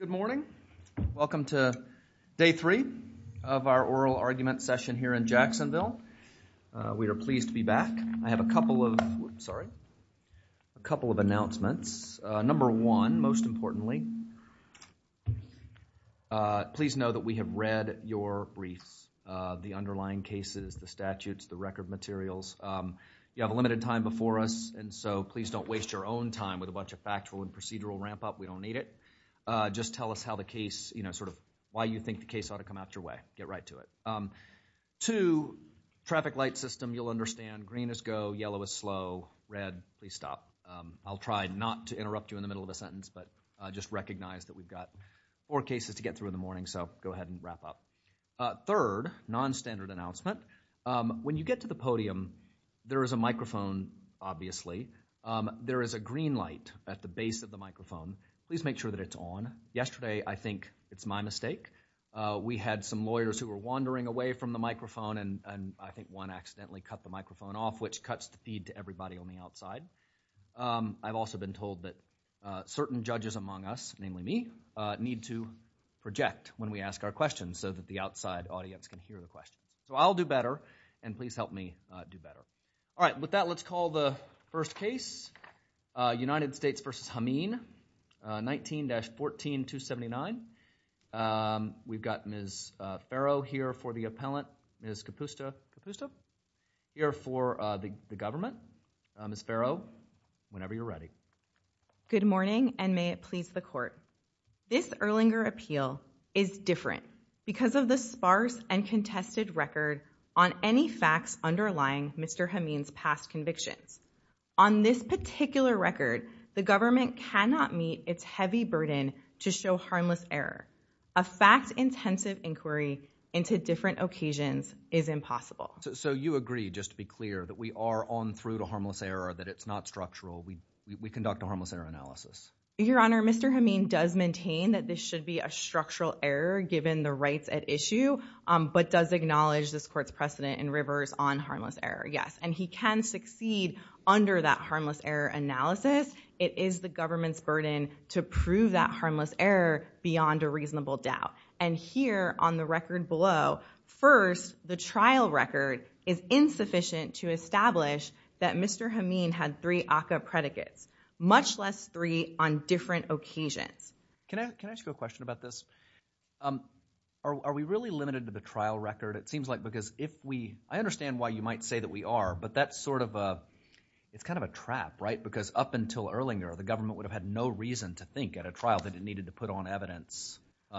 Good morning. Welcome to day three of our oral argument session here in Jacksonville. We are pleased to be back. I have a couple of announcements. Number one, most importantly, please know that we have read your briefs, the underlying cases, the statutes, the record materials. You have a limited time before us, and so please don't waste your own time with a bunch of factual and procedural ramp up. We don't need it. Just tell us how the case, you know, sort of why you think the case ought to come out your way. Get right to it. Two, traffic light system, you'll understand. Green is go, yellow is slow, red, please stop. I'll try not to interrupt you in the middle of a sentence, but just recognize that we've got four cases to get through in the morning, so go ahead and wrap up. Third, nonstandard announcement. When you get to the podium, there is a microphone, obviously. There is a green light at the base of the microphone. Please make sure that it's on. Yesterday, I think it's my mistake. We had some lawyers who were wandering away from the microphone, and I think one accidentally cut the microphone off, which cuts the feed to everybody on the outside. I've also been told that certain judges among us, namely me, need to project when we ask our questions so that the outside audience can hear the question. So I'll do better, and please help me do better. All right. With that, let's call the first case, United States v. Hameen, 19-14279. We've got Ms. Farrow here for the appellant, Ms. Kapusta, here for the government. Ms. Farrow, whenever you're ready. Good morning, and may it please the Court. This Erlanger appeal is different because of the sparse and contested record on any facts underlying Mr. Hameen's past convictions. On this particular record, the government cannot meet its heavy burden to show harmless error. A fact-intensive inquiry into different occasions is impossible. So you agree, just to be clear, that we are on through to harmless error, that it's not structural. We conduct a harmless error analysis. Your Honor, Mr. Hameen does maintain that this should be a structural error given the rights at issue, but does acknowledge this Court's precedent and rivers on harmless error. Yes, and he can succeed under that harmless error analysis. It is the government's burden to prove that harmless error beyond a reasonable doubt. And here, on the record below, first, the trial record is insufficient to establish that Mr. Hameen had three ACCA predicates, much less three on different occasions. Can I ask you a question about this? Are we really limited to the trial record? It seems like because if we, I understand why you might say that we are, but that's sort of a, it's kind of a trap, right? Because up until Erlanger, the government would have had no reason to think at a trial that it needed to put on evidence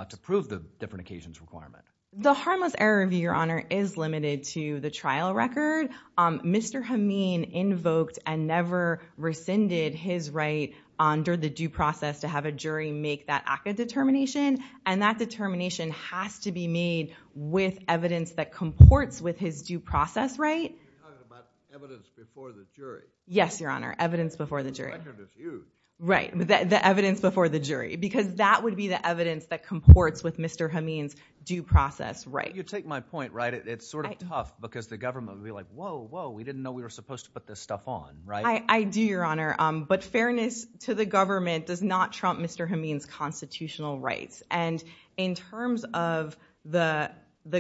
to prove the different occasions requirement. The harmless error review, Your Honor, is limited to the trial record. Mr. Hameen invoked and never rescinded his right under the due process to have a jury make that ACCA determination, and that determination has to be made with evidence that comports with his due process right. You're talking about evidence before the jury. Yes, Your Honor, evidence before the jury. The record is used. Right, the evidence before the jury, because that would be the evidence that comports with Mr. Hameen's due process right. You take my point, right? It's sort of tough because the government would be like, whoa, we didn't know we were supposed to put this stuff on, right? I do, Your Honor, but fairness to the government does not trump Mr. Hameen's constitutional rights. And in terms of the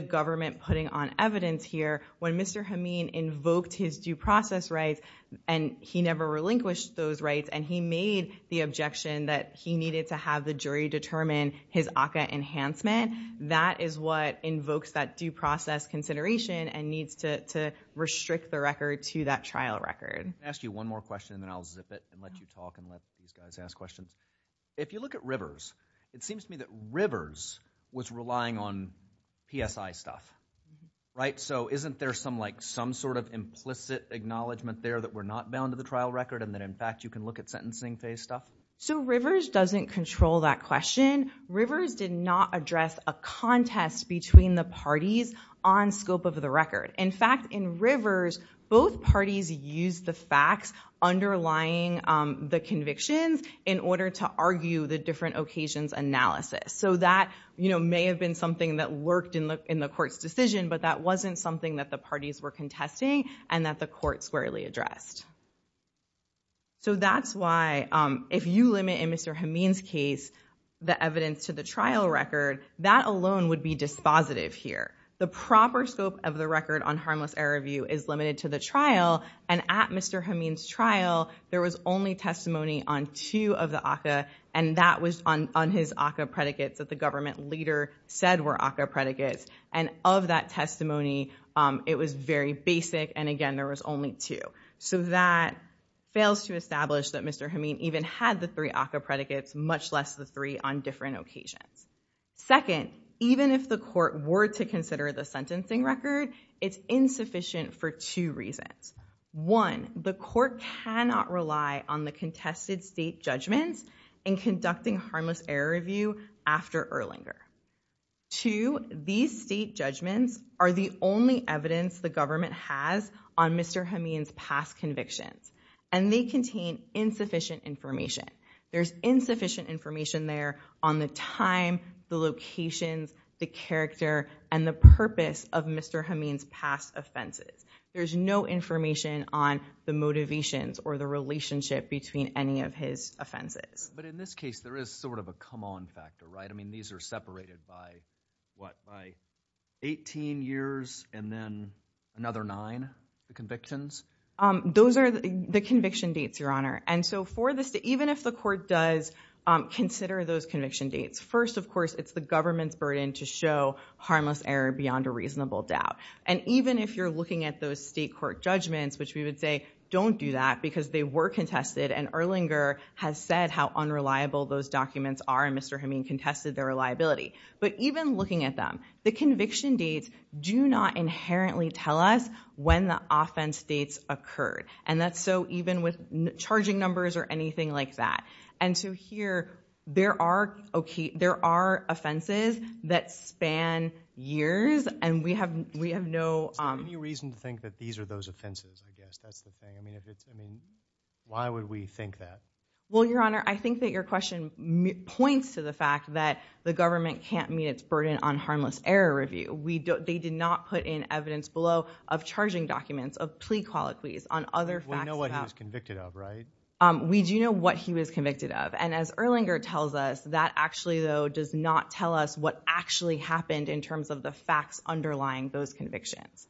government putting on evidence here, when Mr. Hameen invoked his due process rights, and he never relinquished those rights, and he made the objection that he needed to have the jury determine his ACCA enhancement, that is what invokes that due process, and that is what puts the record to that trial record. Can I ask you one more question, and then I'll zip it and let you talk and let these guys ask questions? If you look at Rivers, it seems to me that Rivers was relying on PSI stuff, right? So isn't there some like some sort of implicit acknowledgement there that we're not bound to the trial record, and that in fact you can look at sentencing phase stuff? So Rivers doesn't control that question. Rivers did not address a contest between the parties on scope of the record. In fact, in Rivers, both parties used the facts underlying the convictions in order to argue the different occasions analysis. So that, you know, may have been something that worked in the court's decision, but that wasn't something that the parties were contesting and that the court squarely addressed. So that's why if you limit in Mr. Hameen's case the evidence to the trial record, that alone would be dispositive here. The proper scope of the record on Harmless Error Review is limited to the trial, and at Mr. Hameen's trial, there was only testimony on two of the ACCA, and that was on his ACCA predicates that the government leader said were ACCA predicates, and of that testimony, it was very basic, and again, there was only two. So that fails to establish that Mr. Hameen even had the three ACCA predicates, much less the three on different occasions. Second, even if the court were to consider the sentencing record, it's insufficient for two reasons. One, the court cannot rely on the contested state judgments in conducting Harmless Error Review after Erlinger. Two, these state judgments are the only evidence the government has on Mr. Hameen's past convictions, and they contain insufficient information. There's insufficient information there on the time, the locations, the character, and the purpose of Mr. Hameen's past offenses. There's no information on the motivations or the relationship between any of his offenses. But in this case, there is sort of a come-on factor, right? I mean, these are separated by, what, by 18 years and then another nine, the convictions? Those are the conviction dates, Your Honor. And so for the state, even if the court does consider those conviction dates, first, of course, it's the government's burden to show harmless error beyond a reasonable doubt. And even if you're looking at those state court judgments, which we would say, don't do that because they were contested and Erlinger has said how unreliable those documents are, and Mr. Hameen contested their reliability. But even looking at them, the conviction dates do not inherently tell us when the offense dates occurred. And that's so even with charging numbers or anything like that. And so here, there are, okay, there are offenses that span years, and we have, we have no, um. Is there any reason to think that these are those offenses, I guess? That's the thing. I mean, if it's, I mean, why would we think that? Well, Your Honor, I think that your question points to the fact that the government can't meet its burden on harmless error review. We don't, they did not put in evidence below of charging documents, of plea colloquies, on other facts about- We know what he was convicted of, right? We do know what he was convicted of. And as Erlinger tells us, that actually, though, does not tell us what actually happened in terms of the facts underlying those convictions.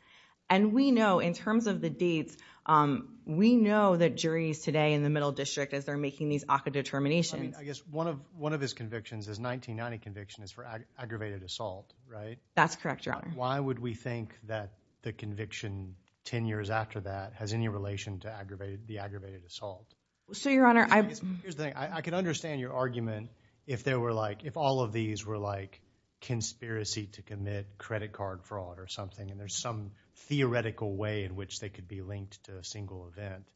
And we know, in terms of the dates, um, we know that juries today in the Middle District, as they're making these ACCA determinations- I mean, I guess one of, one of his convictions, his 1990 conviction is for aggravated assault, right? That's correct, Your Honor. Why would we think that the conviction 10 years after that has any relation to aggravated, the aggravated assault? So, Your Honor, I- Here's the thing. I can understand your argument if there were like, if all of these were like conspiracy to commit credit card fraud or something, and there's some theoretical way in which they could be linked to a single event.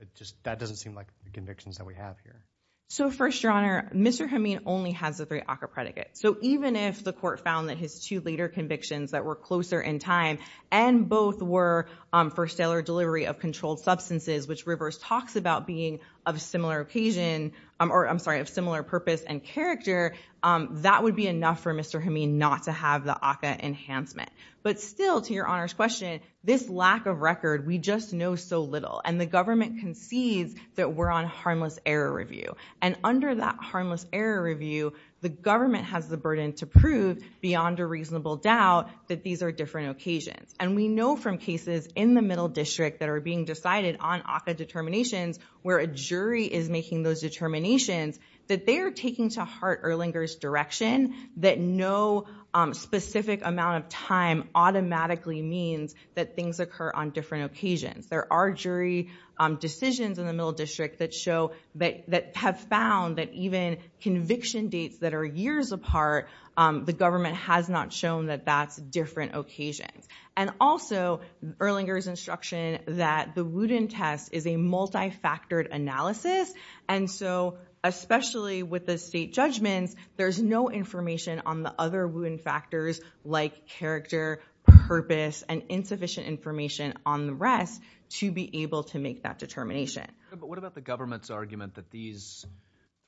It just, that doesn't seem like the convictions that we have here. So, first, Your Honor, Mr. Hameen only has the three ACCA predicates. So, even if the court found that his two later convictions that were closer in time, and both were, um, for stellar delivery of controlled substances, which Rivers talks about being of similar occasion, um, or, I'm sorry, of similar purpose and character, um, that would be enough for Mr. Hameen not to have the ACCA enhancement. But still, to Your Honor's question, this lack of record, we just know so little. And the government concedes that we're on harmless error review. And under that harmless error review, the government has the burden to prove, beyond a reasonable doubt, that these are different occasions. And we know from cases in the Middle District that are being decided on ACCA determinations, where a jury is making those determinations, that they are taking to heart Erlinger's direction that no, um, specific amount of time automatically means that things occur on different occasions. There are jury, um, decisions in the Middle District that show, that, that have found that even conviction dates that are years apart, um, the government has not shown that that's different occasions. And also, Erlinger's instruction that the Wooten test is a multifactored analysis. And so, especially with the state judgments, there's no information on the other Wooten factors like character, purpose, and insufficient information on the rest to be able to make that determination. But what about the government's argument that these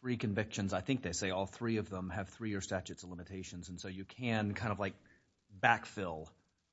three convictions, I think they say all three of them, have three-year statutes of limitations. And so, you can kind of, like, backfill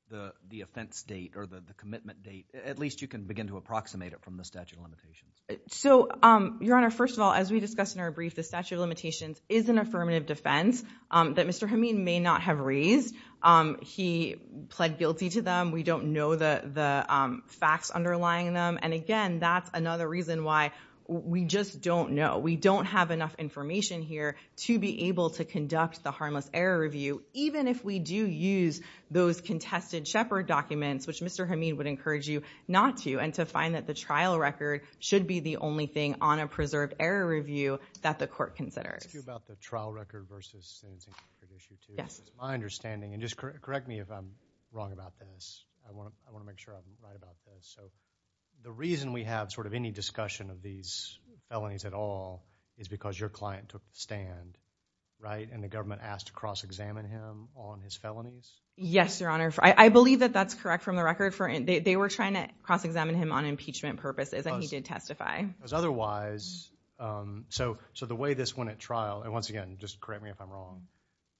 the, the offense date or the, the commitment date. At least you can begin to approximate it from the statute of limitations. So, um, Your Honor, first of all, as we discussed in our brief, the statute of limitations is an affirmative defense, um, that Mr. Hameed may not have raised. Um, he pled guilty to them. We don't know the, the, um, facts underlying them. And again, that's another reason why we just don't know. We don't have enough information here to be able to conduct the harmless error review, even if we do use those contested Shepard documents, which Mr. Hameed would encourage you not to, and to find that the trial record should be the only thing on a preserved error review that the court considers. Let me ask you about the trial record versus sentencing for this issue, too. Yes. It's my understanding, and just correct, correct me if I'm wrong about this. I want to, I want to make sure I'm right about this. So, the reason we have sort of any discussion of these felonies at all is because your client took the stand, right? And the government asked to cross-examine him on his felonies? Yes, Your Honor. I, I believe that that's correct from the record for, they, they were trying to cross-examine him on impeachment purposes, and he did testify. Because otherwise, so, so the way this went at trial, and once again, just correct me if I'm wrong,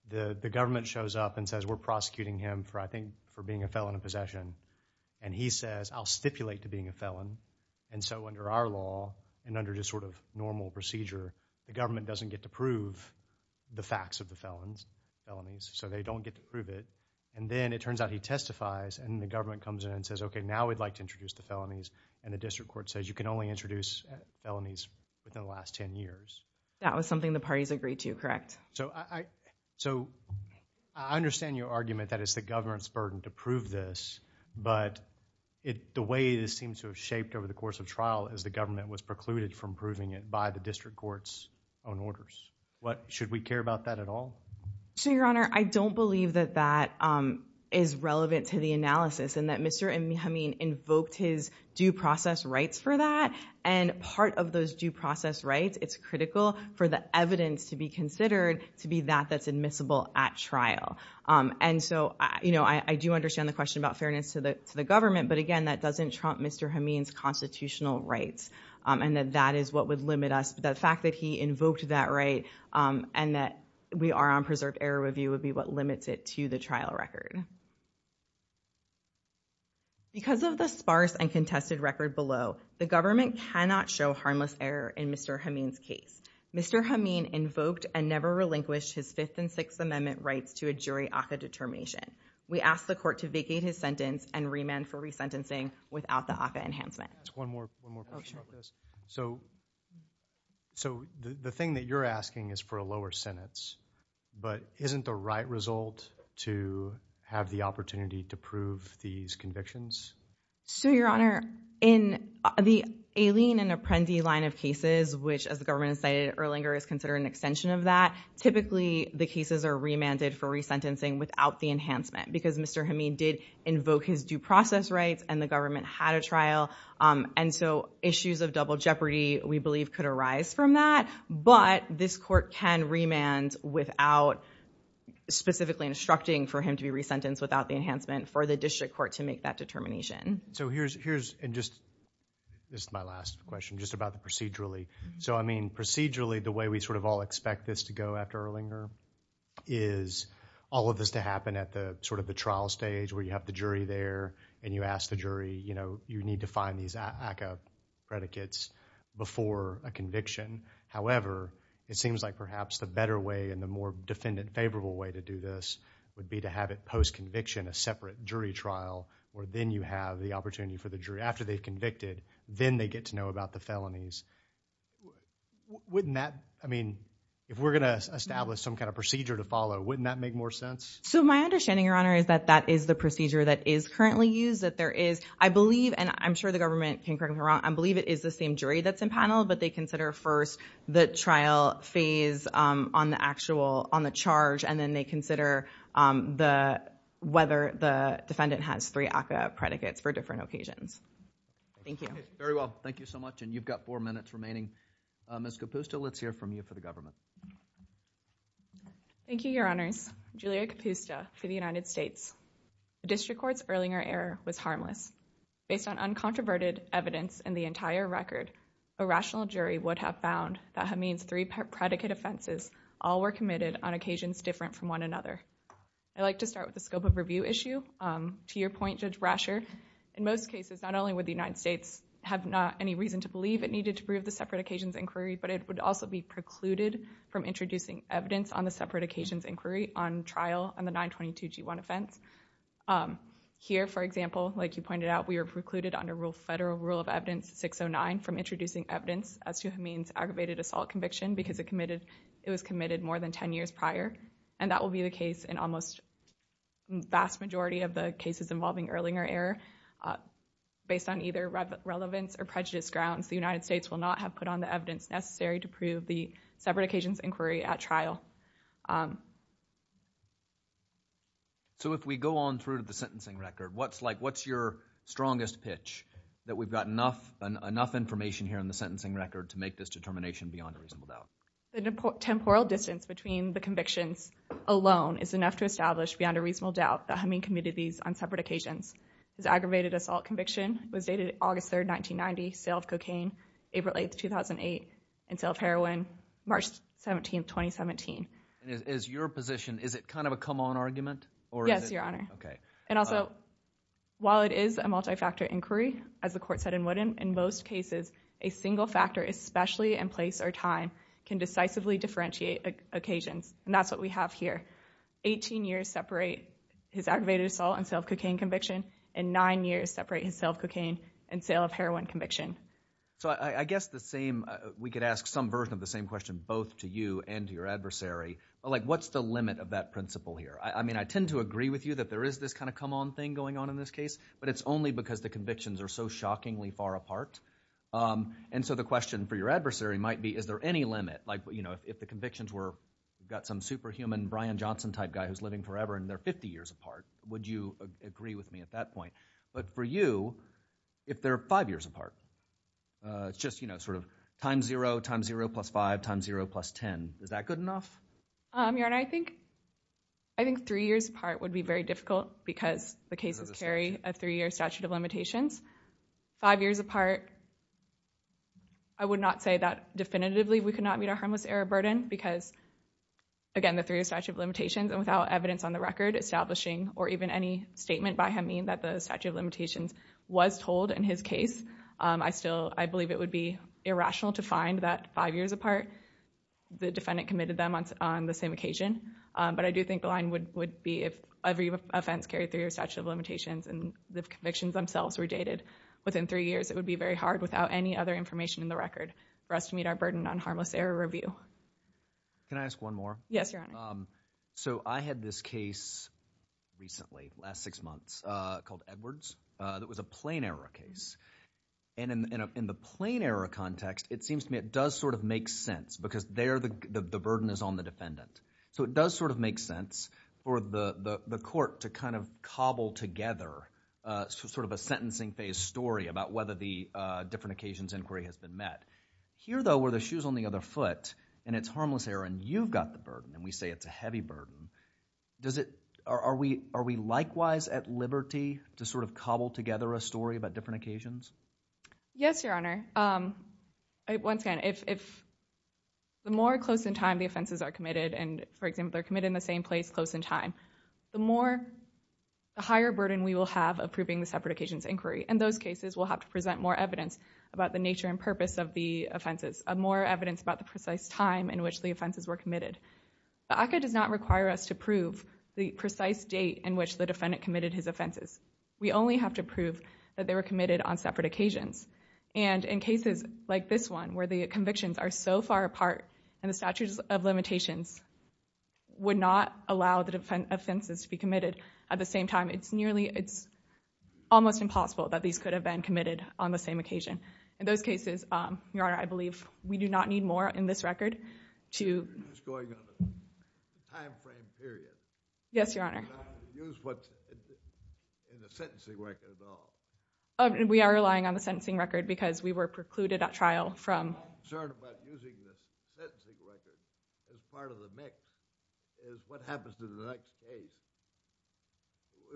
the, the government shows up and says, we're prosecuting him for, I think, for being a felon in possession, and he says, I'll stipulate to being a felon, and so under our law, and under just sort of normal procedure, the government doesn't get to prove the facts of the felons, felonies, so they don't get to prove it, and then it turns out he testifies, and the government comes in and says, okay, now we'd like to introduce the felonies, and the district court says, you can only introduce felonies within the last 10 years. That was something the parties agreed to, correct? So, I, I, so, I understand your argument that it's the government's burden to prove this, but it, the way this seems to have shaped over the course of trial is the government was precluded from proving it by the district court's own orders. What, should we care about that at all? So, Your Honor, I don't believe that that, um, is relevant to the analysis, and that Mr. Hameen invoked his due process rights for that, and part of those due process rights, it's critical for the evidence to be considered to be that that's admissible at trial, um, and so, you know, I, I do understand the question about fairness to the, to the government, but again, that doesn't trump Mr. Hameen's constitutional rights, um, and that that is what would limit us, but the fact that he invoked that right, um, and that we are on reserve error review would be what limits it to the trial record. Because of the sparse and contested record below, the government cannot show harmless error in Mr. Hameen's case. Mr. Hameen invoked and never relinquished his Fifth and Sixth Amendment rights to a jury ACCA determination. We ask the court to vacate his sentence and remand for resentencing without the ACCA enhancement. One more, one more question about this. So, so the, the thing that you're asking is for a lower sentence, but isn't the right result to have the opportunity to prove these convictions? So Your Honor, in the Aileen and Apprendi line of cases, which as the government has cited Erlinger is considered an extension of that, typically the cases are remanded for resentencing without the enhancement, because Mr. Hameen did invoke his due process rights and the government had a trial. Um, and so issues of double jeopardy, we believe could arise from that, but this court can remand without specifically instructing for him to be resentenced without the enhancement for the district court to make that determination. So here's, here's, and just, this is my last question, just about the procedurally. So I mean, procedurally, the way we sort of all expect this to go after Erlinger is all of this to happen at the sort of the trial stage where you have the jury there and you ask the jury, you know, you need to find these ACCA predicates before a conviction. However, it seems like perhaps the better way and the more defendant favorable way to do this would be to have it post-conviction, a separate jury trial, where then you have the opportunity for the jury after they've convicted, then they get to know about the felonies. Wouldn't that, I mean, if we're going to establish some kind of procedure to follow, wouldn't that make more sense? So my understanding, Your Honor, is that that is the procedure that is currently used, that there is, I believe, and I'm sure the government can correct me if I'm wrong, I believe it is the same jury that's in panel, but they consider first the trial phase on the actual, on the charge, and then they consider the, whether the defendant has three ACCA predicates for different occasions. Thank you. Very well. Thank you so much. And you've got four minutes remaining. Ms. Capusta, let's hear from you for the government. Thank you, Your Honors. Julia Capusta for the United States. The district court's Erlinger error was harmless. Based on uncontroverted evidence in the entire record, a rational jury would have found that Hameen's three predicate offenses all were committed on occasions different from one another. I'd like to start with the scope of review issue. To your point, Judge Rasher, in most cases, not only would the United States have not any reason to believe it needed to prove the separate occasions inquiry, but it would also be precluded from introducing evidence on the separate occasions inquiry on trial on the 922G1 offense. Here, for example, like you pointed out, we are precluded under federal rule of evidence 609 from introducing evidence as to Hameen's aggravated assault conviction because it was committed more than ten years prior, and that will be the case in almost the vast majority of the cases involving Erlinger error. Based on either relevance or prejudice grounds, the United States would not have a separate occasions inquiry at trial. So if we go on through to the sentencing record, what's like, what's your strongest pitch, that we've got enough information here in the sentencing record to make this determination beyond a reasonable doubt? The temporal distance between the convictions alone is enough to establish beyond a reasonable doubt that Hameen committed these on separate occasions. His aggravated assault conviction was dated August 3rd, 1990, sale of cocaine, April 8th, 2008, and sale of heroin March 17th, 2017. And is your position, is it kind of a come on argument? Yes, your honor. And also, while it is a multi-factor inquiry, as the court said in Woodin, in most cases a single factor, especially in place or time, can decisively differentiate occasions, and that's what we have here. Eighteen years separate his aggravated assault and sale of cocaine and sale of heroin conviction. So I guess the same, we could ask some version of the same question both to you and to your adversary. Like, what's the limit of that principle here? I mean, I tend to agree with you that there is this kind of come on thing going on in this case, but it's only because the convictions are so shockingly far apart. And so the question for your adversary might be, is there any limit? Like, you know, if the convictions were, you've got some super human Brian Johnson type guy who's living forever and they're 50 years apart, would you agree with me at that point? But for you, if they're five years apart, it's just, you know, sort of time zero, time zero plus five, time zero plus 10, is that good enough? Your honor, I think three years apart would be very difficult because the cases carry a three year statute of limitations. Five years apart, I would not say that definitively we could not meet our harmless error burden because, again, the three year statute of limitations and without evidence on the record establishing or even any statement by him mean that the statute of limitations was told in his case, I still, I believe it would be irrational to find that five years apart the defendant committed them on the same occasion. But I do think the line would be if every offense carried three year statute of limitations and the convictions themselves were dated within three years, it would be very hard without any other information in the record for us to meet our burden on harmless error review. Can I ask one more? Yes, your honor. Um, so I had this case recently, last six months, uh, called Edwards, uh, that was a plain error case. And in, in the plain error context, it seems to me it does sort of make sense because there the, the burden is on the defendant. So it does sort of make sense for the, the, the court to kind of cobble together, uh, sort of a sentencing phase story about whether the, uh, different occasions inquiry has been met. Here though where the issue is on the other foot and it's harmless error and you've got the burden and we say it's a heavy burden. Does it, are, are we, are we likewise at liberty to sort of cobble together a story about different occasions? Yes, your honor. Um, once again, if, if the more close in time the offenses are committed and for example, they're committed in the same place close in time, the more, the higher burden we will have approving the separate occasions inquiry and those cases will have to present more evidence about the nature and purpose of the offenses, uh, more evidence about the precise time in which the offenses were committed. The ACCA does not require us to prove the precise date in which the defendant committed his offenses. We only have to prove that they were committed on separate occasions. And in cases like this one where the convictions are so far apart and the statutes of limitations would not allow the defense offenses to be committed at the same time. It's nearly, it's almost impossible that these could have been committed on the same occasion. In those cases, um, your honor, I believe we do not need more in this record to... This is going on a time frame period. Yes, your honor. We're not going to use what's in the sentencing record at all. We are relying on the sentencing record because we were precluded at trial from... My concern about using the sentencing record as part of the mix is what happens to the case.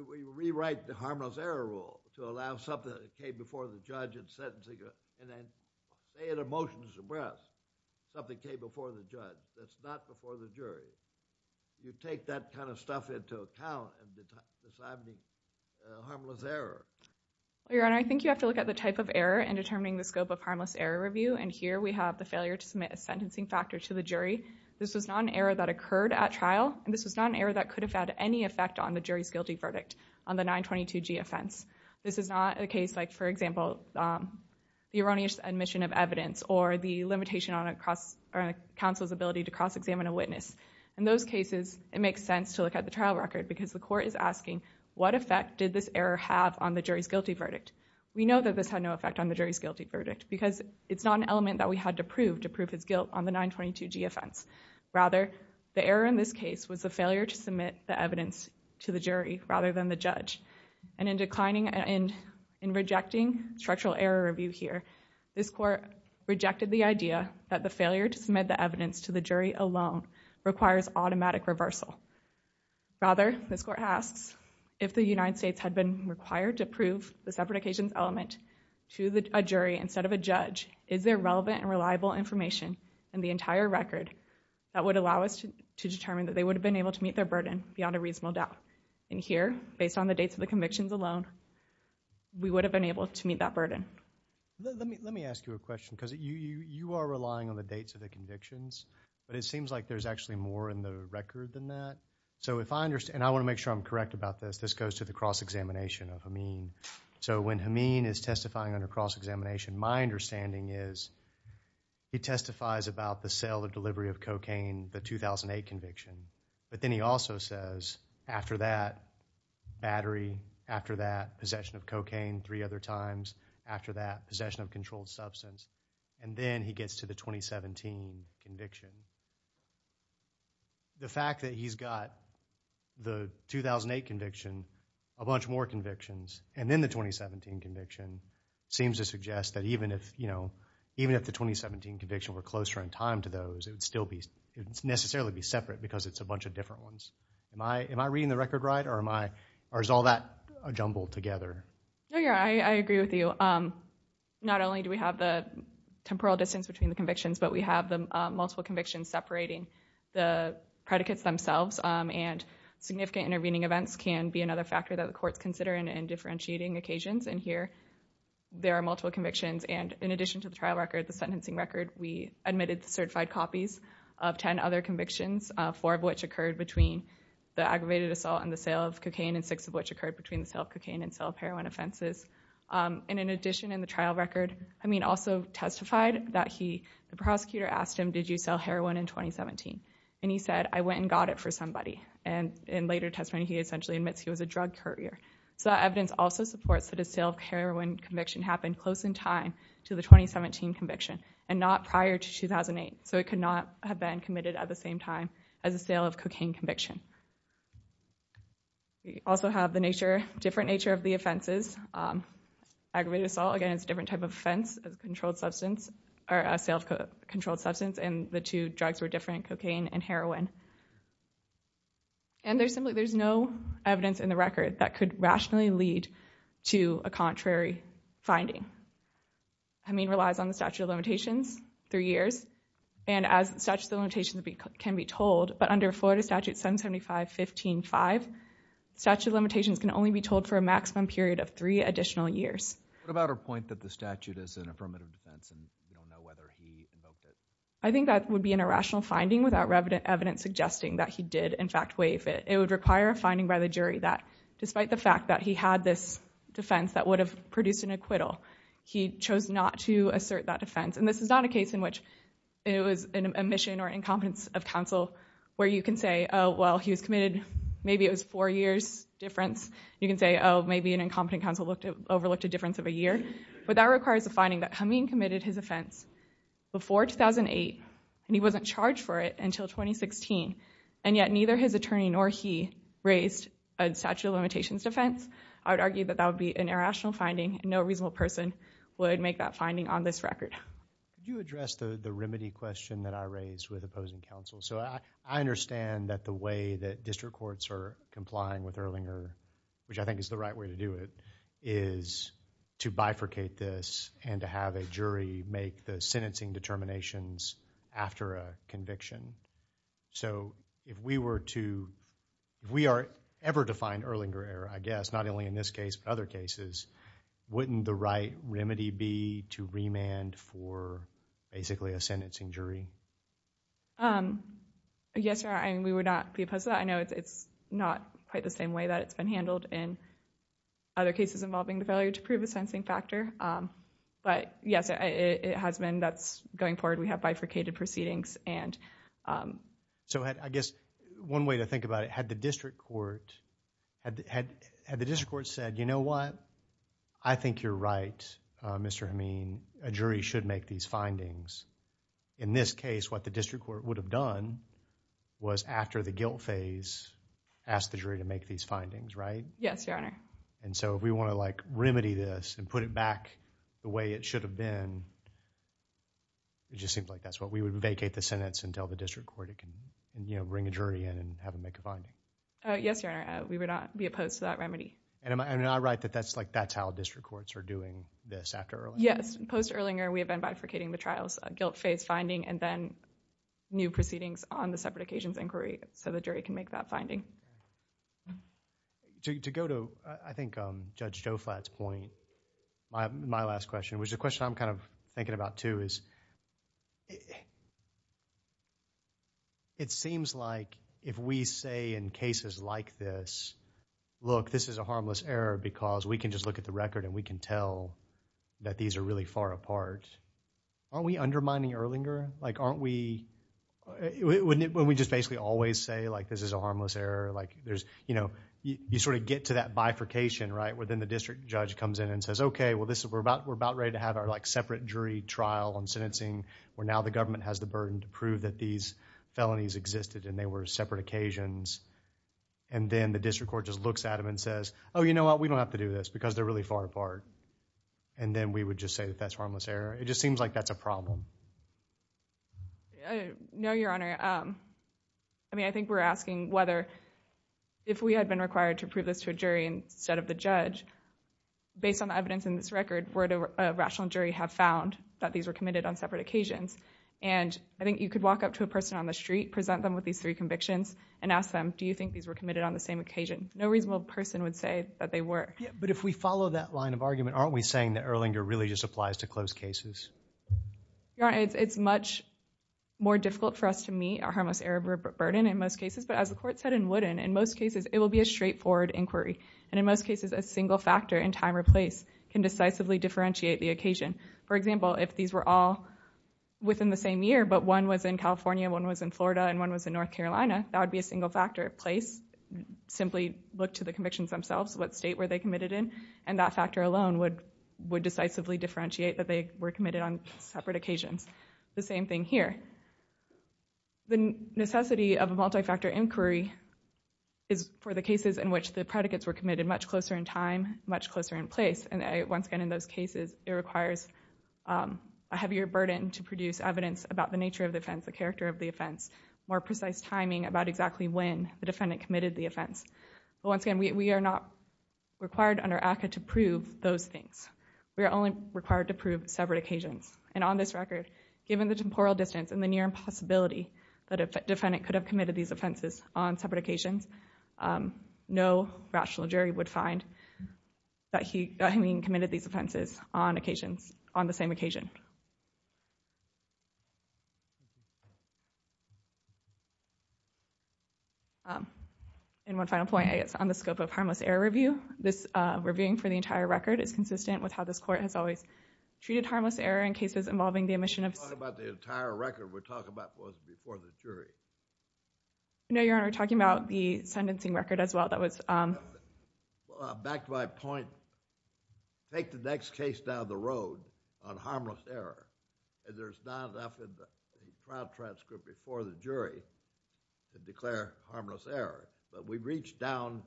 We rewrite the harmless error rule to allow something that came before the judge in sentencing and then they had a motion to suppress something that came before the judge. That's not before the jury. You take that kind of stuff into account in deciding the harmless error. Your honor, I think you have to look at the type of error in determining the scope of harmless error review and here we have the failure to submit a sentencing factor to the jury's guilty verdict on the 922G offense. This is not a case like, for example, the erroneous admission of evidence or the limitation on a counsel's ability to cross-examine a witness. In those cases, it makes sense to look at the trial record because the court is asking what effect did this error have on the jury's guilty verdict. We know that this had no effect on the jury's guilty verdict because it's not an element that we had to prove to prove his guilt on the 922G offense. Rather, the error in this case was the failure to submit the evidence to the jury rather than the judge. In declining and in rejecting structural error review here, this court rejected the idea that the failure to submit the evidence to the jury alone requires automatic reversal. Rather, this court asks if the United States had been required to prove the separate occasions element to a jury instead of a judge, is there relevant and reliable information in the entire record that would allow us to determine that they would have been able to meet their burden beyond a reasonable doubt? Here, based on the dates of the convictions alone, we would have been able to meet that Let me ask you a question because you are relying on the dates of the convictions, but it seems like there's actually more in the record than that. I want to make sure I'm correct about this. This goes to the cross-examination of Hameen. When Hameen is testifying under cross-examination, my understanding is he testifies about the sale and delivery of cocaine, the 2008 conviction, but then he also says, after that, battery, after that, possession of cocaine three other times, after that, possession of controlled substance, and then he gets to the 2017 conviction. The fact that he's got the 2008 conviction, a bunch more convictions, and then the 2017 conviction, seems to suggest that even if the 2017 conviction were closer in time to those, it would still necessarily be separate because it's a bunch of different ones. Am I reading the record right, or is all that jumbled together? I agree with you. Not only do we have the temporal distance between the convictions, but we have the multiple convictions separating the predicates themselves, and significant intervening events can be another factor that the courts consider in differentiating occasions, and here, there are multiple convictions, and in addition to the trial record, the sentencing record, we admitted certified copies of 10 other convictions, four of which occurred between the aggravated assault and the sale of cocaine, and six of which occurred between the sale of cocaine and sale of heroin offenses, and in addition, in the trial record, I mean, also testified that he, the prosecutor asked him, did you sell heroin in 2017, and he said, I went and got it for somebody, and in later testimony, he essentially admits he was a drug courier, so that evidence also supports that a sale of heroin conviction happened close in time to the 2017 conviction, and not prior to 2008, so it could not have been committed at the same time as a sale of cocaine conviction. We also have the nature, different nature of the offenses, aggravated assault, again, it's a different type of offense, a controlled substance, or a sale of controlled substance, and the two drugs were different, cocaine and heroin, and there's simply, there's no evidence in the record that could rationally lead to a contrary finding. I mean, it relies on the statute of limitations, three years, and as statute of limitations can be told, but under Florida Statute 775.15.5, statute of limitations can only be told for a maximum period of three additional years. What about our point that the statute is an affirmative defense, and we don't know whether he invoked it? I think that would be an irrational finding without evidence suggesting that he did, in fact, waive it. It would require a finding by the jury that, despite the fact that he had this defense that would have produced an acquittal, he chose not to assert that defense, and this is not a case in which it was an omission or incompetence of counsel, where you can say, oh, well, he was committed, maybe it was four years difference. You can say, oh, maybe an incompetent counsel overlooked a difference of a year, but that requires a finding that Khamenei committed his offense before 2008, and he wasn't charged for it until 2016, and yet neither his attorney nor he raised a statute of limitations defense. I would argue that that would be an irrational finding, and no reasonable person would make that finding on this record. Can you address the remedy question that I raised with opposing counsel? I understand that the way that district courts are complying with Erlinger, which I think is the right way to do it, is to bifurcate this and to have a jury make the sentencing determinations after a conviction, so if we were to... if we are ever to find Erlinger error, I guess, not only in this case, but other cases, wouldn't the right remedy be to remand for basically a sentencing jury? Yes, sir, I mean, we would not be opposed to that. I know it's not quite the same way that it's been handled in other cases involving the failure to prove a sentencing factor, but yes, it has been... that's going forward. We have bifurcated proceedings, and... So, I guess, one way to think about it, had the district court said, you know what, I think you're right, Mr. Hameen, a jury should make these findings, in this case, what the district court would have done was, after the guilt phase, ask the jury to make these findings, right? Yes, Your Honor. And so, if we want to, like, remedy this and put it back the way it should have been, it just seems like that's what we would... vacate the sentence until the district court can, you know, bring a jury in and have them make a finding. Yes, Your Honor. We would not be opposed to that remedy. And am I right that that's like... that's how district courts are doing this after Erlinger? Yes, post-Erlinger, we have been bifurcating the trials, a guilt phase finding, and then new proceedings on the separate occasions inquiry, so the jury can make that finding. To go to, I think, Judge Joflat's point, my last question, which is a question I'm kind of thinking about, too, is, it seems like if we say in cases like this, look, this is a harmless error because we can just look at the record and we can tell that these are really far apart, aren't we undermining Erlinger? Like, aren't we... when we just basically always say, like, this is a harmless error, like, there's, you know, you sort of get to that bifurcation, right, where then the district judge comes in and says, okay, well, we're about ready to have our, like, separate jury trial on sentencing, where now the government has the burden to prove that these felonies existed and they were separate occasions. And then the district court just looks at them and says, oh, you know what? We don't have to do this because they're really far apart. And then we would just say that that's harmless error. It just seems like that's a problem. No, Your Honor. I mean, I think we're asking whether, if we had been required to prove this to a jury instead of the judge, based on the evidence in this record, would a rational jury have found that these were committed on separate occasions? And I think you could walk up to a person on the street, present them with these three convictions and ask them, do you think these were committed on the same occasion? No reasonable person would say that they were. But if we follow that line of argument, aren't we saying that Erlinger really just applies to closed cases? Your Honor, it's much more difficult for us to meet a harmless error burden in most cases. But as the court said in Wooden, in most cases it will be a straightforward inquiry. And in most cases, a single factor in time or place can decisively differentiate the occasion. For example, if these were all within the same year, but one was in California, one was in Florida, and one was in North Carolina, that would be a single factor. Place simply looked to the convictions themselves, what state were they committed in. And that factor alone would decisively differentiate that they were committed on separate occasions. The same thing here. The necessity of a multi-factor inquiry is for the cases in which the predicates were committed much closer in time, much closer in place. And once again, in those cases, it requires a heavier burden to produce evidence about the nature of the offense, the character of the offense, more precise timing about exactly when the defendant committed the offense. But once again, we are not required under ACCA to prove those things. We are only required to prove separate occasions. And on this record, given the temporal distance and the near impossibility that a defendant could have committed these offenses on separate occasions, no rational jury would find that he had committed these offenses on the same occasion. And one final point, I guess, on the scope of harmless error review, this reviewing for the entire record is consistent with how this court has always treated harmless error in cases involving the omission of... We're not talking about the entire record. We're talking about what was before the jury. No, Your Honor. We're talking about the sentencing record as well. That was... Back to my point. We don't take the next case down the road on harmless error, and there's not often a trial transcript before the jury to declare harmless error, but we reach down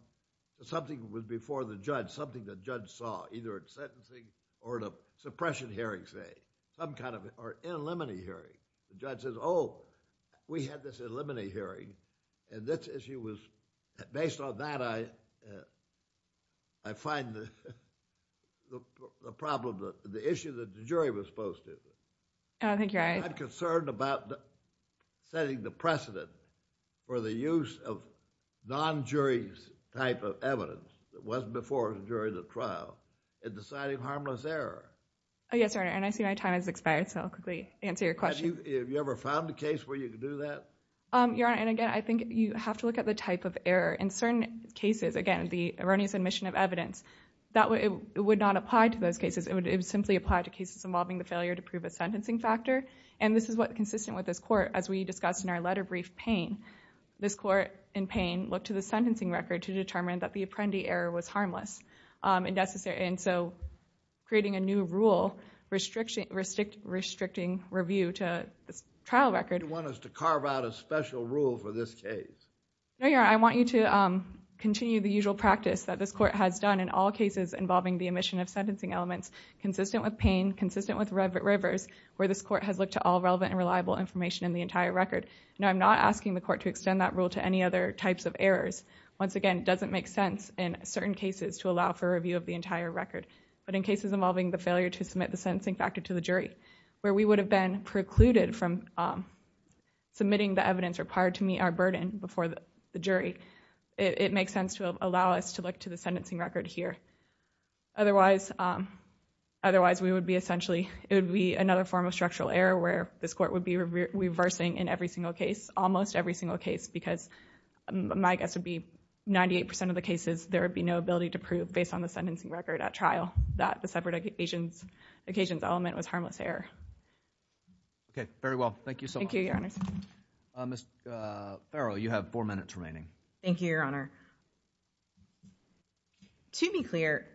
to something that was before the judge, something the judge saw, either in sentencing or in a suppression hearing, say, some kind of... or in a limine hearing, the judge says, oh, we had this in a limine hearing, and this issue was... The problem, the issue that the jury was supposed to... I think you're right. I'm concerned about setting the precedent for the use of non-jury's type of evidence that was before the jury in the trial in deciding harmless error. Yes, Your Honor, and I see my time has expired, so I'll quickly answer your question. Have you ever found a case where you could do that? Your Honor, and again, I think you have to look at the type of error. In certain cases, again, the erroneous admission of evidence, that would not apply to those cases. It would simply apply to cases involving the failure to prove a sentencing factor, and this is what's consistent with this court, as we discussed in our letter brief, Payne. This court in Payne looked to the sentencing record to determine that the apprendee error was harmless, and so creating a new rule restricting review to the trial record... You want us to carve out a special rule for this case? No, Your Honor, I want you to continue the usual practice that this court has done in all cases involving the admission of sentencing elements, consistent with Payne, consistent with Rivers, where this court has looked to all relevant and reliable information in the entire record. No, I'm not asking the court to extend that rule to any other types of errors. Once again, it doesn't make sense in certain cases to allow for a review of the entire record, but in cases involving the failure to submit the sentencing factor to the jury, where we would have been precluded from submitting the evidence required to meet our burden before the jury, it makes sense to allow us to look to the sentencing record here. Otherwise, we would be essentially... it would be another form of structural error where this court would be reversing in every single case, almost every single case, because my guess would be 98 percent of the cases, there would be no ability to prove, based on the sentencing record at trial, that the separate occasions element was harmless error. Okay, very well. Thank you so much. Thank you, Your Honors. Ms. Farrell, you have four minutes remaining. Thank you, Your Honor. To be clear,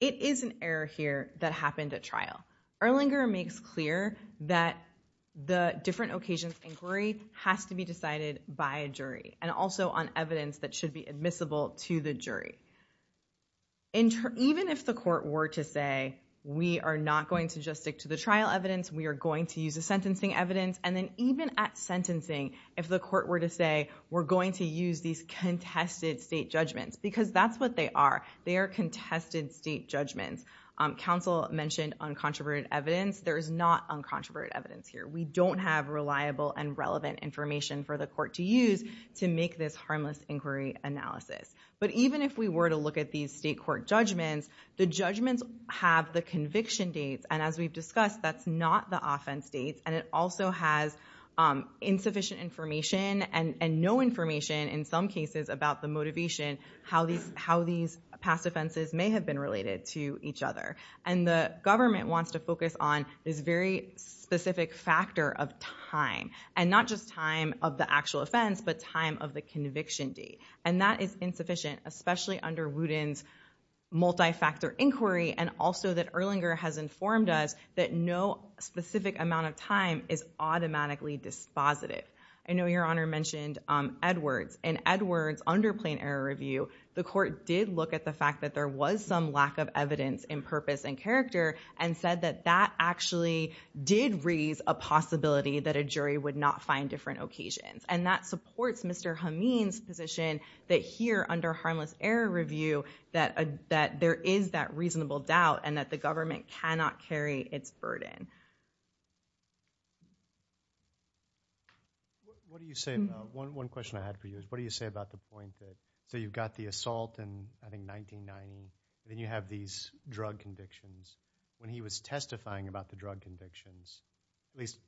it is an error here that happened at trial. Erlinger makes clear that the different occasions inquiry has to be decided by a jury, and also on evidence that should be admissible to the jury. Even if the court were to say, we are not going to just stick to the trial evidence, we are going to use the sentencing evidence, and then even at sentencing, if the court were to say, we're going to use these contested state judgments, because that's what they are. They are contested state judgments. Counsel mentioned uncontroverted evidence. There is not uncontroverted evidence here. We don't have reliable and relevant information for the court to use to make this harmless inquiry analysis. But even if we were to look at these state court judgments, the judgments have the conviction dates, and as we've discussed, that's not the offense dates. And it also has insufficient information and no information, in some cases, about the motivation, how these past offenses may have been related to each other. And the government wants to focus on this very specific factor of time, and not just time of the actual offense, but time of the conviction date. And that is insufficient, especially under Wooten's multi-factor inquiry, and also that Wooten's informed us that no specific amount of time is automatically dispositive. I know Your Honor mentioned Edwards, and Edwards, under plain error review, the court did look at the fact that there was some lack of evidence in purpose and character, and said that that actually did raise a possibility that a jury would not find different occasions. And that supports Mr. Hameen's position that here, under harmless error review, that there is that reasonable doubt, and that the government cannot carry its burden. What do you say about, one question I had for you, is what do you say about the point that, so you've got the assault in, I think, 1990, then you have these drug convictions. When he was testifying about the drug convictions, at least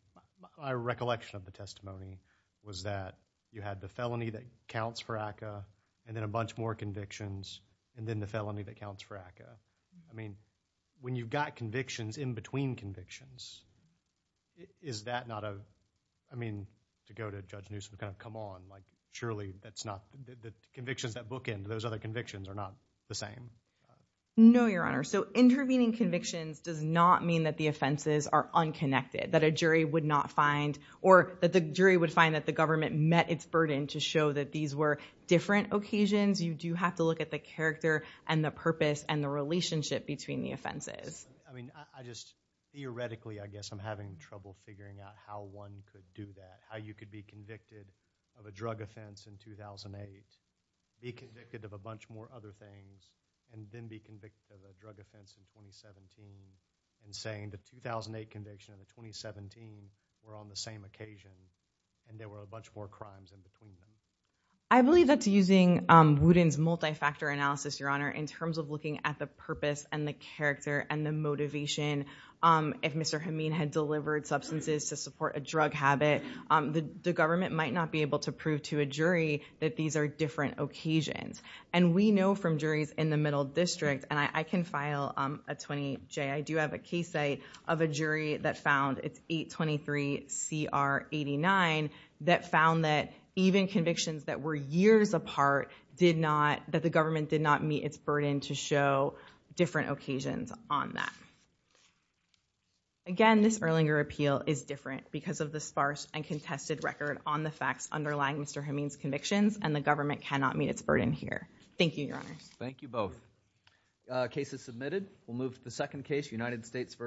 my recollection of the testimony was that you had the felony that counts for ACCA, and then a bunch more convictions, and then the felony that counts for ACCA. I mean, when you've got convictions in between convictions, is that not a, I mean, to go to Judge Newsom, kind of, come on, like, surely that's not, the convictions that book end, those other convictions, are not the same? No, Your Honor. So, intervening convictions does not mean that the offenses are unconnected, that a jury would not find, or that the jury would find that the government met its burden to show that these were different occasions. You do have to look at the character, and the purpose, and the relationship between the offenses. I mean, I just, theoretically, I guess, I'm having trouble figuring out how one could do that, how you could be convicted of a drug offense in 2008, be convicted of a bunch more other things, and then be convicted of a drug offense in 2017, and saying the 2008 conviction and the 2017 were on the same occasion, and there were a bunch more crimes in between them. I believe that's using Wooten's multi-factor analysis, Your Honor, in terms of looking at the purpose, and the character, and the motivation. If Mr. Hameen had delivered substances to support a drug habit, the government might not be able to prove to a jury that these are different occasions. And we know from juries in the Middle District, and I can file a 20J, I do have a case site of a jury that found, it's 823-CR-89, that found that even convictions that were years apart did not, that the government did not meet its burden to show different occasions on that. Again, this Erlinger appeal is different because of the sparse and contested record on the facts underlying Mr. Hameen's convictions, and the government cannot meet its burden here. Thank you, Your Honor. Thank you both. Case is submitted. We'll move to the second case, United States versus New York.